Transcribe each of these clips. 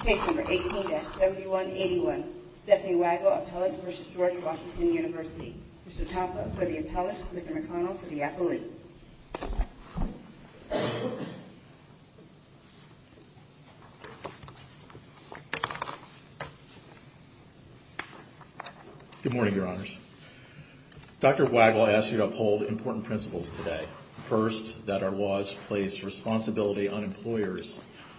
Case number 18-7181, Stephanie Waggel, Appellant v. George Washington University. Mr. Tapa for the Appellant, Mr. McConnell for the Appellant. Good morning, Your Honors. Dr. Waggel asked you to uphold important principles today. First, that our laws place responsibility on employers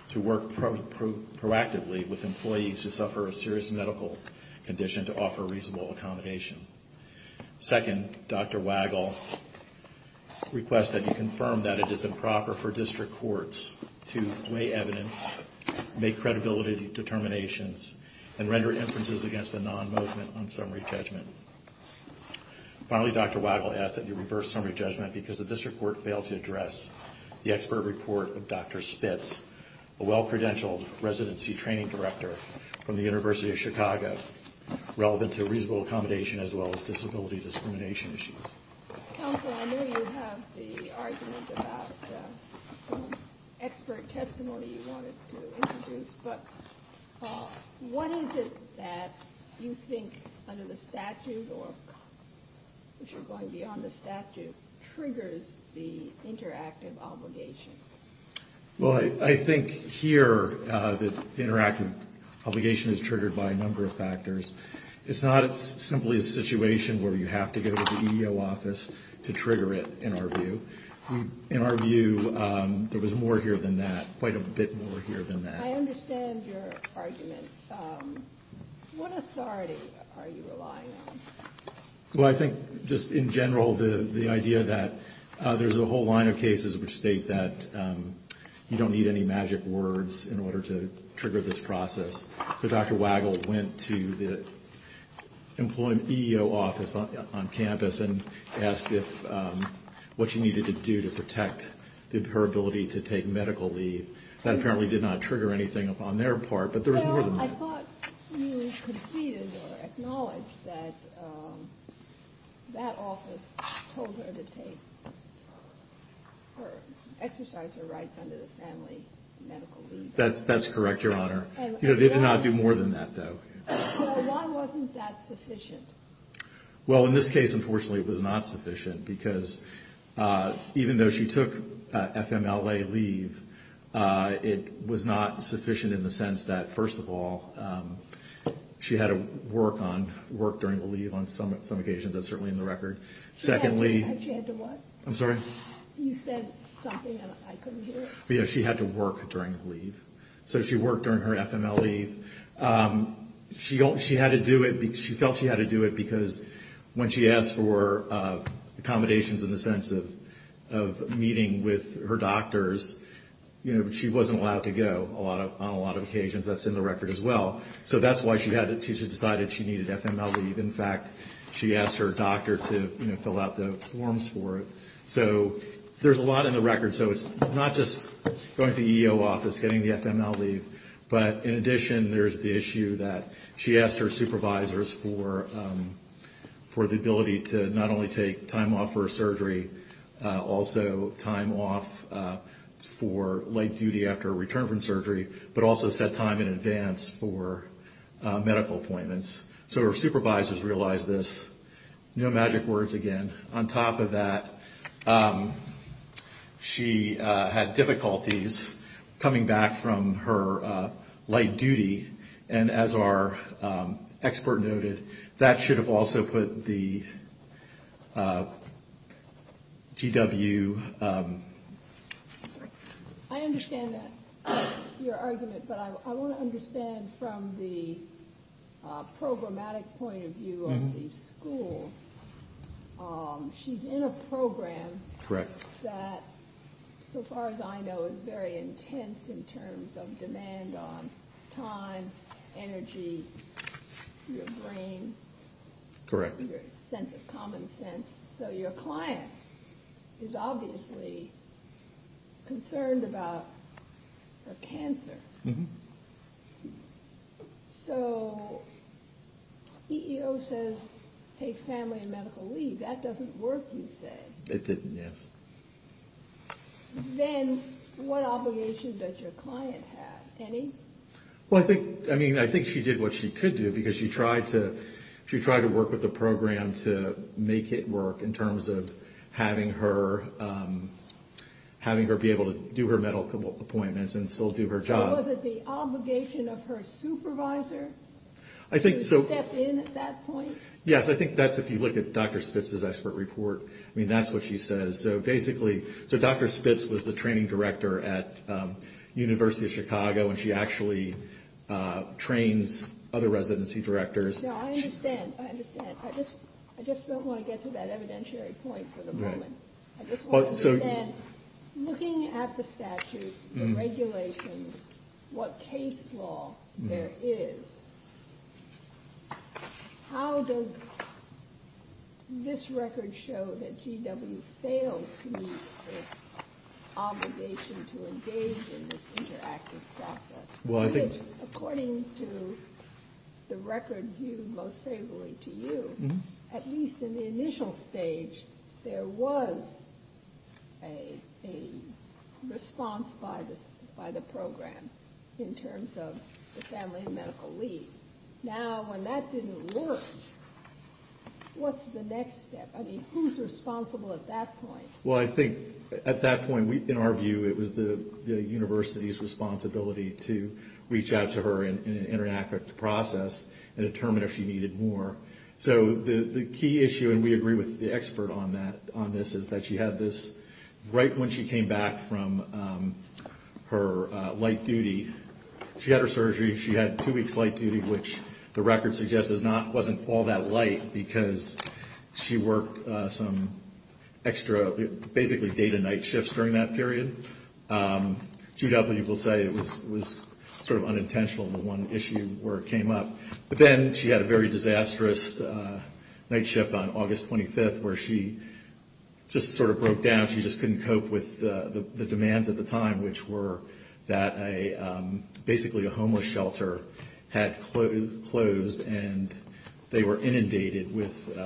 to work proactively with employees who suffer a serious medical condition to offer reasonable accommodation. Second, Dr. Waggel requests that you confirm that it is improper for district courts to weigh evidence, make credibility determinations, and render inferences against the non-movement on summary judgment. Finally, Dr. Waggel asks that you reverse summary judgment because the district court failed to address the expert report of Dr. Spitz, a well-credentialed residency training director from the University of Chicago, relevant to reasonable accommodation as well as disability discrimination issues. Counsel, I know you have the argument about the expert testimony you wanted to introduce, but what is it that you think, under the statute or if you're going beyond the statute, triggers the interactive obligation? Well, I think here that the interactive obligation is triggered by a number of factors. It's not simply a situation where you have to go to the EEO office to trigger it, in our view. In our view, there was more here than that, quite a bit more here than that. I understand your argument. What authority are you relying on? Well, I think just in general, the idea that there's a whole line of cases which state that you don't need any magic words in order to trigger this process. So Dr. Waggel went to the EEO office on campus and asked what she needed to do to protect her ability to take medical leave. That apparently did not trigger anything on their part, but there was more than that. I thought you conceded or acknowledged that that office told her to exercise her rights under the family medical leave. That's correct, Your Honor. They did not do more than that, though. So why wasn't that sufficient? Well, in this case, unfortunately, it was not sufficient, because even though she took FMLA leave, it was not sufficient in the sense that, first of all, she had to work during the leave on some occasions. That's certainly in the record. She had to what? I'm sorry? You said something and I couldn't hear it. Yeah, she had to work during the leave. So she worked during her FMLA leave. She felt she had to do it because when she asked for accommodations in the sense of meeting with her doctors, she wasn't allowed to go on a lot of occasions. That's in the record as well. So that's why she decided she needed FMLA leave. In fact, she asked her doctor to fill out the forms for it. So there's a lot in the record. So it's not just going to the EEO office, getting the FMLA leave, but in addition, there's the issue that she asked her supervisors for the ability to not only take time off for her surgery, also time off for late duty after a return from surgery, but also set time in advance for medical appointments. So her supervisors realized this. No magic words again. On top of that, she had difficulties coming back from her late duty. And as our expert noted, that should have also put the GW. I understand your argument, but I want to understand from the programmatic point of view of the school. She's in a program that, so far as I know, is very intense in terms of demand on time, energy, your brain, your sense of common sense. So your client is obviously concerned about her cancer. So EEO says take family and medical leave. That doesn't work, you say. It didn't, yes. Then what obligation does your client have? Any? Well, I think she did what she could do because she tried to work with the program to make it work in terms of having her be able to do her medical appointments and still do her job. So was it the obligation of her supervisor to step in at that point? Yes, I think that's if you look at Dr. Spitz's expert report. I mean, that's what she says. So Dr. Spitz was the training director at University of Chicago, and she actually trains other residency directors. No, I understand. I understand. I just don't want to get to that evidentiary point for the moment. Looking at the statute, the regulations, what case law there is, how does this record show that GW failed to meet its obligation to engage in this interactive process? According to the record viewed most favorably to you, at least in the initial stage, there was a response by the program in terms of the family and medical leave. Now, when that didn't work, what's the next step? I mean, who's responsible at that point? Well, I think at that point, in our view, it was the university's responsibility to reach out to her and interact with the process and determine if she needed more. So the key issue, and we agree with the expert on this, is that she had this right when she came back from her light duty. She had her surgery. She had two weeks light duty, which the record suggests wasn't all that light because she worked some extra, basically day-to-night shifts during that period. GW will say it was sort of unintentional, the one issue where it came up. But then she had a very disastrous night shift on August 25th where she just sort of broke down. She just couldn't cope with the demands at the time, which were that basically a homeless shelter had closed and they were inundated with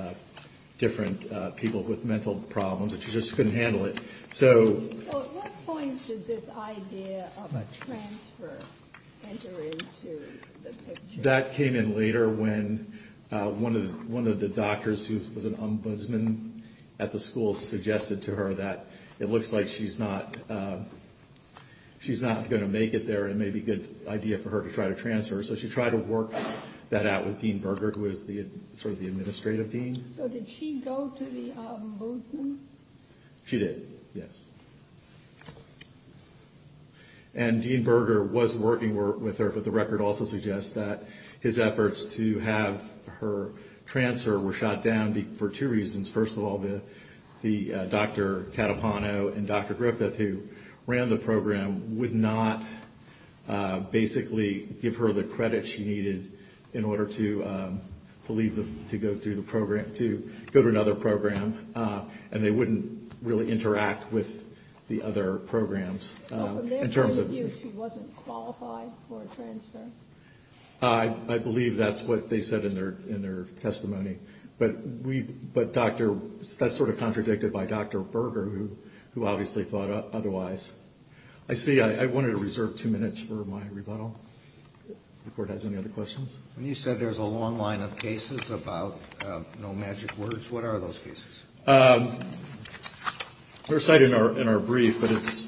different people with mental problems. She just couldn't handle it. So at what point did this idea of transfer enter into the picture? That came in later when one of the doctors who was an ombudsman at the school suggested to her that it looks like she's not going to make it there. It may be a good idea for her to try to transfer. So she tried to work that out with Dean Berger, who was sort of the administrative dean. So did she go to the ombudsman? She did, yes. And Dean Berger was working with her, but the record also suggests that his efforts to have her transfer were shot down for two reasons. First of all, Dr. Catapano and Dr. Griffith, who ran the program, would not basically give her the credit she needed in order to go to another program. And they wouldn't really interact with the other programs. So from their point of view, she wasn't qualified for a transfer? I believe that's what they said in their testimony. But that's sort of contradicted by Dr. Berger, who obviously thought otherwise. I see I wanted to reserve two minutes for my rebuttal before it has any other questions. When you said there's a long line of cases about no magic words, what are those cases? They're cited in our brief, but it's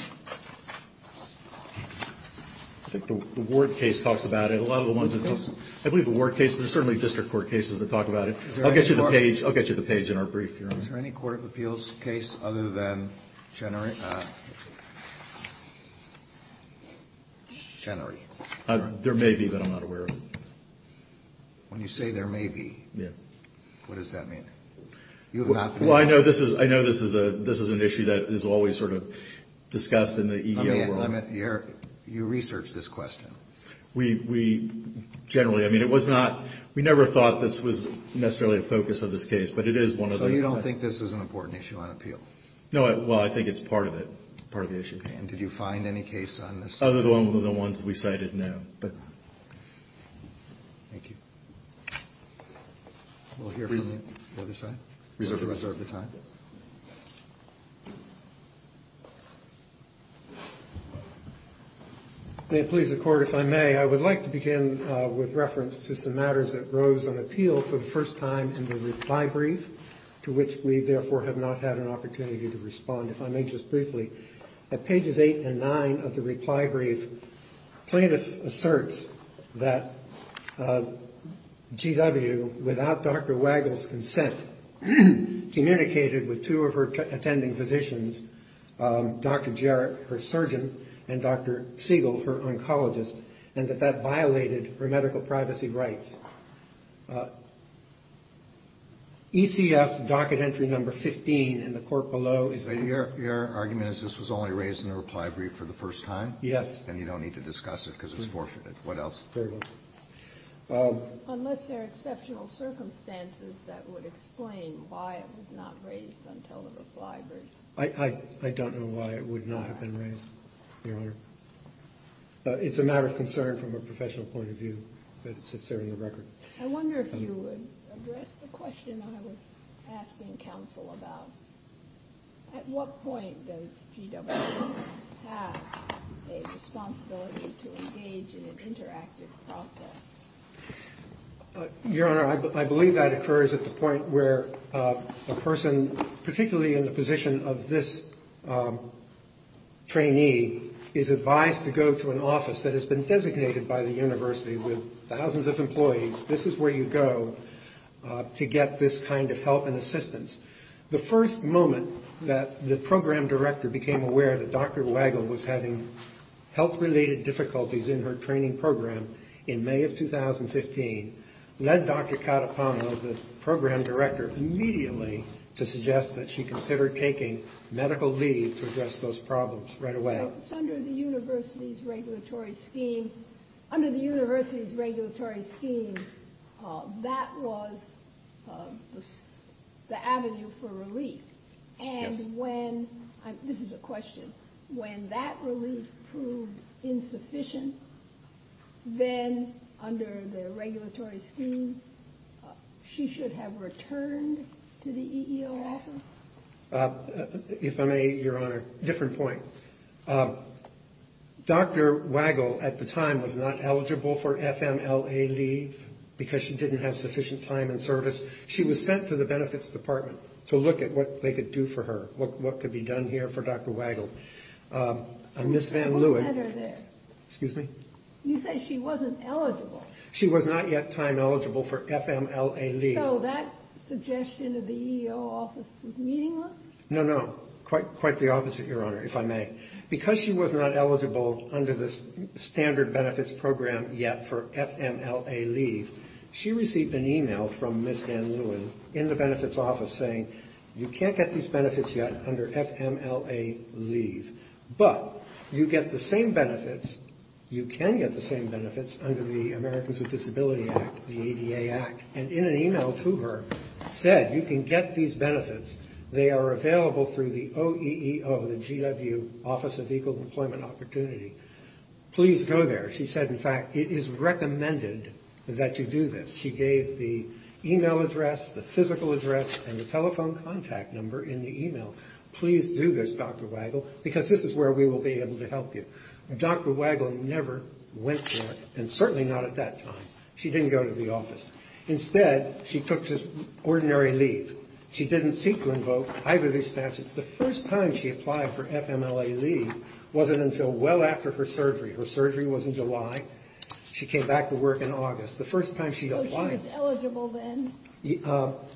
– I think the Ward case talks about it. A lot of the ones that – I believe the Ward case. There's certainly district court cases that talk about it. I'll get you the page in our brief here. Is there any court of appeals case other than Chenery? There may be, but I'm not aware of it. When you say there may be, what does that mean? Well, I know this is an issue that is always sort of discussed in the EEO world. You researched this question. We – generally, I mean, it was not – we never thought this was necessarily the focus of this case, but it is one of the – So you don't think this is an important issue on appeal? No, well, I think it's part of it, part of the issue. Okay, and did you find any case on this? Other than the ones we cited, no. Thank you. We'll hear from the other side. Reserve the time. May it please the Court, if I may, I would like to begin with reference to some matters that rose on appeal for the first time in the reply brief, to which we, therefore, have not had an opportunity to respond. If I may just briefly, at pages eight and nine of the reply brief, plaintiff asserts that GW, without Dr. Wagle's consent, communicated with two of her attending physicians, Dr. Jarrett, her surgeon, and Dr. Siegel, her oncologist, and that that violated her medical privacy rights. ECF docket entry number 15 in the court below is – Your argument is this was only raised in the reply brief for the first time? Yes. And you don't need to discuss it because it's forfeited. What else? Very well. Unless there are exceptional circumstances that would explain why it was not raised until the reply brief. I don't know why it would not have been raised, Your Honor. It's a matter of concern from a professional point of view, but it sits there in the record. I wonder if you would address the question I was asking counsel about. At what point does GW have a responsibility to engage in an interactive process? Your Honor, I believe that occurs at the point where a person, particularly in the position of this trainee, is advised to go to an office that has been designated by the university with thousands of employees. This is where you go to get this kind of help and assistance. The first moment that the program director became aware that Dr. Wagle was having health-related difficulties in her training program in May of 2015 led Dr. Katapano, the program director, immediately to suggest that she consider taking medical leave to address those problems right away. So under the university's regulatory scheme, that was the avenue for relief. Yes. This is a question. When that relief proved insufficient, then under the regulatory scheme, she should have returned to the EEO office? If I may, Your Honor, different point. Dr. Wagle at the time was not eligible for FMLA leave because she didn't have sufficient time and service. She was sent to the Benefits Department to look at what they could do for her, what could be done here for Dr. Wagle. And Ms. Van Leeuwen... You said she wasn't eligible. She was not yet time eligible for FMLA leave. So that suggestion of the EEO office was meaningless? No, no. Quite the opposite, Your Honor, if I may. Because she was not eligible under the standard benefits program yet for FMLA leave, she received an email from Ms. Van Leeuwen in the benefits office saying, you can't get these benefits yet under FMLA leave. But you get the same benefits, you can get the same benefits under the Americans with Disability Act, the ADA Act. And in an email to her said, you can get these benefits. They are available through the OEEO, the GW, Office of Equal Employment Opportunity. Please go there. She said, in fact, it is recommended that you do this. She gave the email address, the physical address, and the telephone contact number in the email. Please do this, Dr. Wagle, because this is where we will be able to help you. Dr. Wagle never went there, and certainly not at that time. She didn't go to the office. Instead, she took just ordinary leave. She didn't seek to invoke either of these statutes. The first time she applied for FMLA leave wasn't until well after her surgery. Her surgery was in July. She came back to work in August. The first time she applied. So she was eligible then?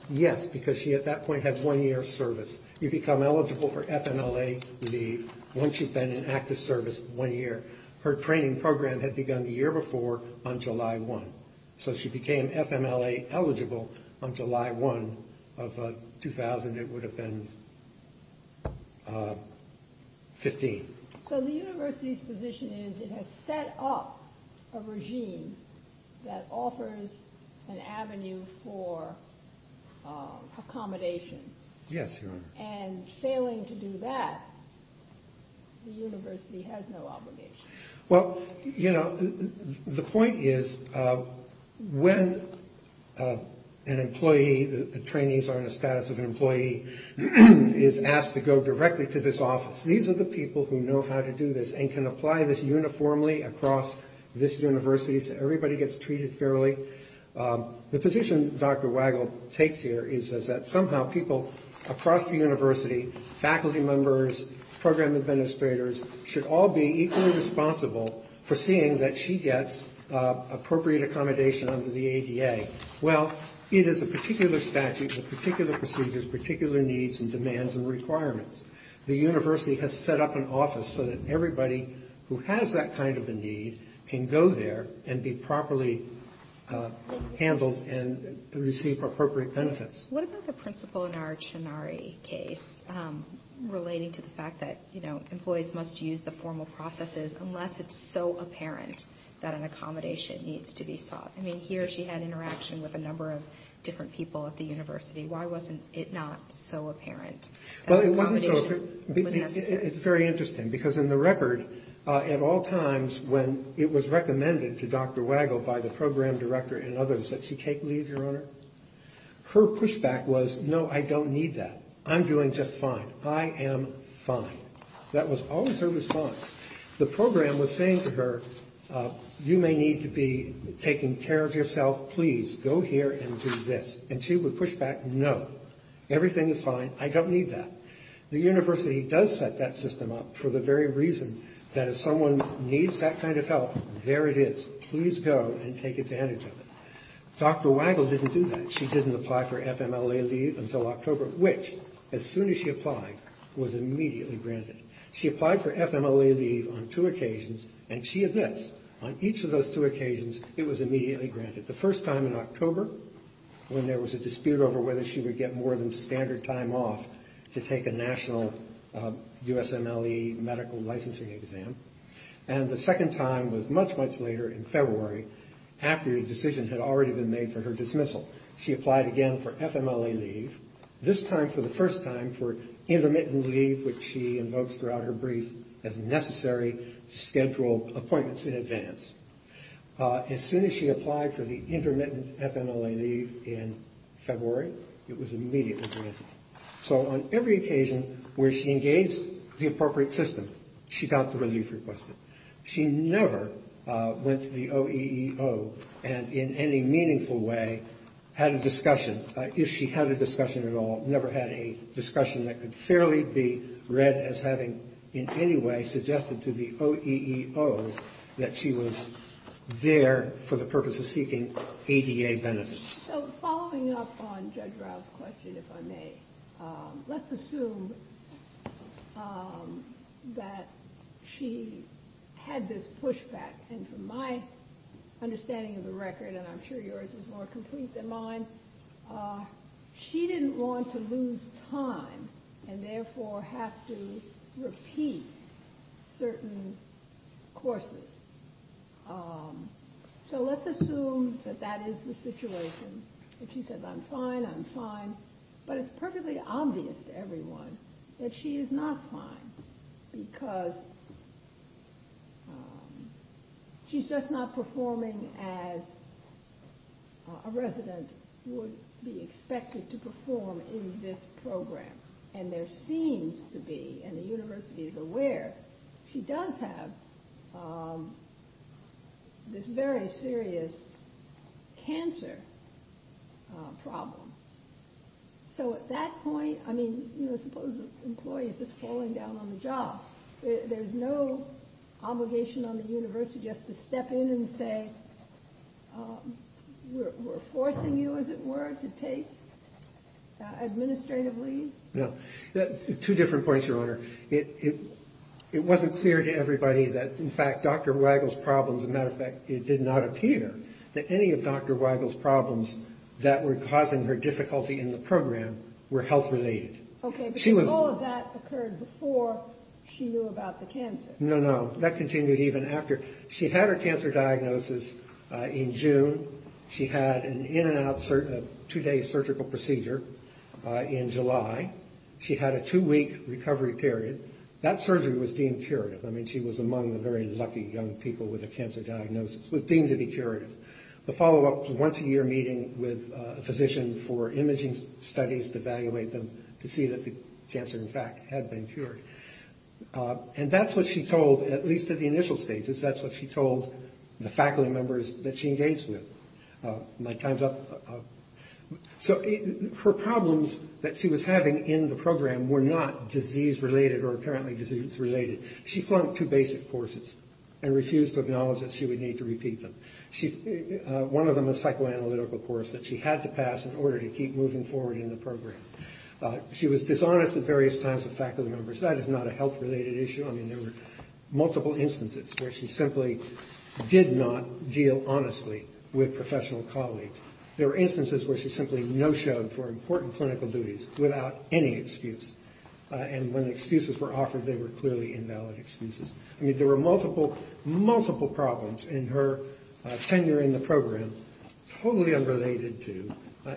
Yes, because she at that point had one year of service. You become eligible for FMLA leave once you've been in active service one year. Her training program had begun the year before on July 1. So she became FMLA eligible on July 1 of 2000. It would have been 15. So the university's position is it has set up a regime that offers an avenue for accommodation. Yes, Your Honor. And failing to do that, the university has no obligation. Well, you know, the point is when an employee, the trainees are in the status of an employee, is asked to go directly to this office, these are the people who know how to do this and can apply this uniformly across this university. So everybody gets treated fairly. The position Dr. Wagle takes here is that somehow people across the university, faculty members, program administrators, should all be equally responsible for seeing that she gets appropriate accommodation under the ADA. Well, it is a particular statute with particular procedures, particular needs and demands and requirements. The university has set up an office so that everybody who has that kind of a need can go there and be properly handled and receive appropriate benefits. What about the principle in our Chinari case relating to the fact that, you know, employees must use the formal processes unless it's so apparent that an accommodation needs to be sought? I mean, here she had interaction with a number of different people at the university. Why wasn't it not so apparent that accommodation was necessary? Well, it wasn't so. It's very interesting because in the record, at all times when it was recommended to Dr. Wagle by the program director and others that she take leave, Your Honor, her pushback was, no, I don't need that. I'm doing just fine. I am fine. That was always her response. The program was saying to her, you may need to be taking care of yourself. Please go here and do this. And she would push back, no, everything is fine. I don't need that. The university does set that system up for the very reason that if someone needs that kind of help, there it is. Please go and take advantage of it. Dr. Wagle didn't do that. She didn't apply for FMLA leave until October, which, as soon as she applied, was immediately granted. She applied for FMLA leave on two occasions, and she admits on each of those two occasions it was immediately granted. The first time in October when there was a dispute over whether she would get more than standard time off to take a national USMLE medical licensing exam, and the second time was much, much later in February after a decision had already been made for her dismissal. She applied again for FMLA leave, this time for the first time for intermittent leave, which she invokes throughout her brief as necessary to schedule appointments in advance. As soon as she applied for the intermittent FMLA leave in February, it was immediately granted. So on every occasion where she engaged the appropriate system, she got the relief requested. She never went to the OEEO and in any meaningful way had a discussion, if she had a discussion at all, never had a discussion that could fairly be read as having in any way suggested to the OEEO that she was there for the purpose of seeking ADA benefits. So following up on Judge Rouse's question, if I may, let's assume that she had this pushback, and from my understanding of the record, and I'm sure yours is more complete than mine, she didn't want to lose time and therefore have to repeat certain courses. So let's assume that that is the situation. If she says, I'm fine, I'm fine, but it's perfectly obvious to everyone that she is not fine, because she's just not performing as a resident would be expected to perform in this program. And there seems to be, and the university is aware, she does have this very serious cancer problem. So at that point, I mean, suppose an employee is just falling down on the job. There's no obligation on the university just to step in and say, we're forcing you, as it were, to take administrative leave? Two different points, Your Honor. It wasn't clear to everybody that, in fact, Dr. Wagle's problems, as a matter of fact, it did not appear that any of Dr. Wagle's problems that were causing her difficulty in the program were health-related. No, no, that continued even after. She had her cancer diagnosis in June. She had an in-and-out two-day surgical procedure in July. She had a two-week recovery period. That surgery was deemed curative. I mean, she was among the very lucky young people with a cancer diagnosis, deemed to be curative. The follow-up was a once-a-year meeting with a physician for imaging studies to evaluate them to see that the cancer, in fact, had been cured. And that's what she told, at least at the initial stages, that's what she told the faculty members that she engaged with. So her problems that she was having in the program were not disease-related or apparently disease-related. She flunked two basic courses and refused to acknowledge that she would need to repeat them, one of them a psychoanalytical course that she had to pass in order to keep moving forward in the program. She was dishonest at various times with faculty members. That is not a health-related issue. I mean, there were multiple instances where she simply did not deal honestly with professional colleagues. There were instances where she simply no-showed for important clinical duties without any excuse. And when excuses were offered, they were clearly invalid excuses. I mean, there were multiple, multiple problems in her tenure in the program totally unrelated to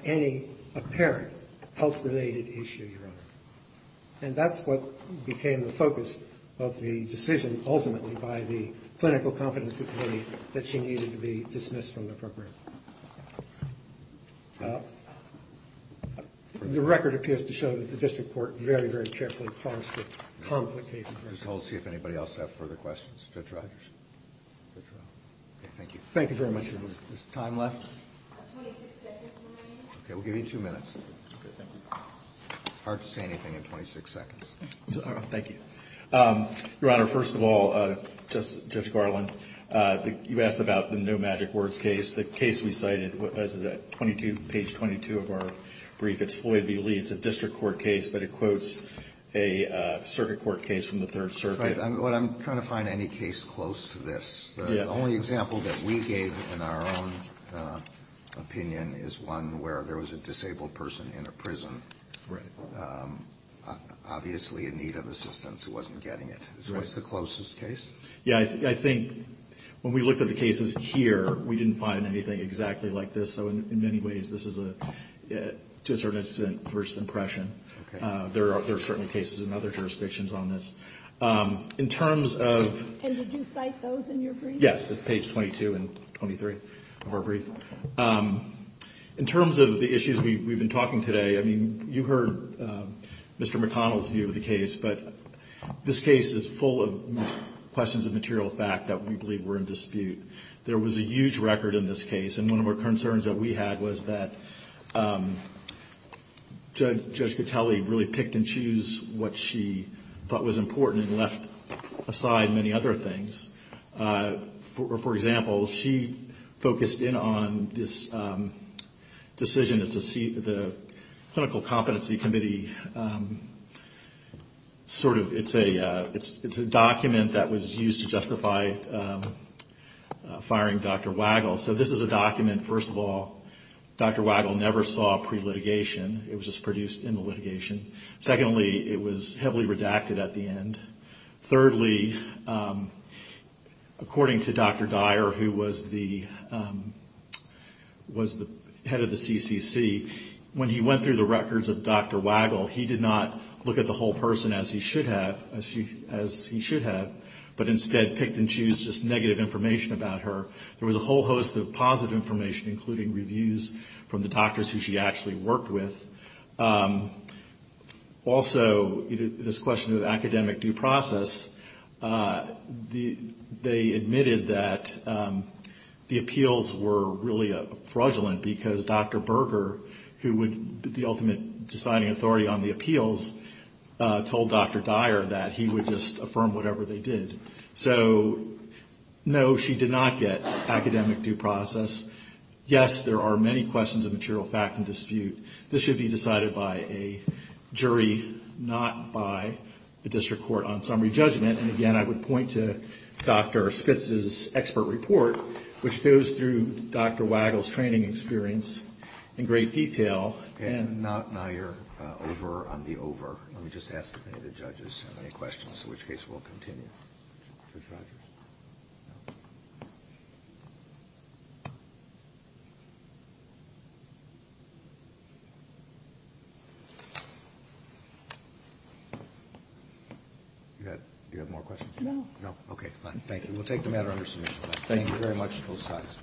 any apparent health-related issue, Your Honor. And that's what became the focus of the decision, ultimately, by the Clinical Competency Committee, that she needed to be dismissed from the program. The record appears to show that the district court very, very carefully parsed the complicated records. Just hold and see if anybody else has further questions. Judge Rogers. Judge Rogers. Okay, thank you. Thank you very much, Your Honor. Is there time left? Okay, we'll give you two minutes. Hard to say anything in 26 seconds. Thank you. Your Honor, first of all, Judge Garland, you asked about the No Magic Words case. The case we cited, page 22 of our brief, it's Floyd v. Leeds, a district court case, but it quotes a circuit court case from the Third Circuit. I'm trying to find any case close to this. The only example that we gave in our own opinion is one where there was a disabled person in a prison, obviously in need of assistance, who wasn't getting it. What's the closest case? Yeah, I think when we looked at the cases here, we didn't find anything exactly like this. So in many ways, this is a, to a certain extent, first impression. There are certain cases in other jurisdictions on this. In terms of... And did you cite those in your brief? Yes, it's page 22 and 23 of our brief. In terms of the issues we've been talking today, I mean, you heard Mr. McConnell's view of the case, but this case is full of questions of material fact that we believe were in dispute. There was a huge record in this case, and one of our concerns that we had was that Judge Gattelli really picked and chose what she thought was important and left aside many other things. For example, she focused in on this decision that the Clinical Competency Committee, sort of, it's a document that was used to justify firing Dr. Wagle. So this is a document, first of all, Dr. Wagle never saw pre-litigation. It was just produced in the litigation. Secondly, it was heavily redacted at the end. Thirdly, according to Dr. Dyer, who was the head of the CCC, when he went through the records of Dr. Wagle, he did not look at the whole person as he should have, but instead picked and chose just negative information about her. There was a whole host of positive information, including reviews from the doctors who she actually worked with. Also, this question of academic due process, they admitted that the appeals were really fraudulent because Dr. Berger, who would be the ultimate deciding authority on the appeals, told Dr. Dyer that he would just affirm whatever they did. So, no, she did not get academic due process. Yes, there are many questions of material fact and dispute. This should be decided by a jury, not by the district court on summary judgment. And again, I would point to Dr. Spitz's expert report, which goes through Dr. Wagle's training experience in great detail. And now you're over on the over. Let me just ask if any of the judges have any questions, in which case we'll continue. Do you have more questions? No. No? Okay, fine. Thank you. We'll take the matter under submission. Thank you very much to both sides.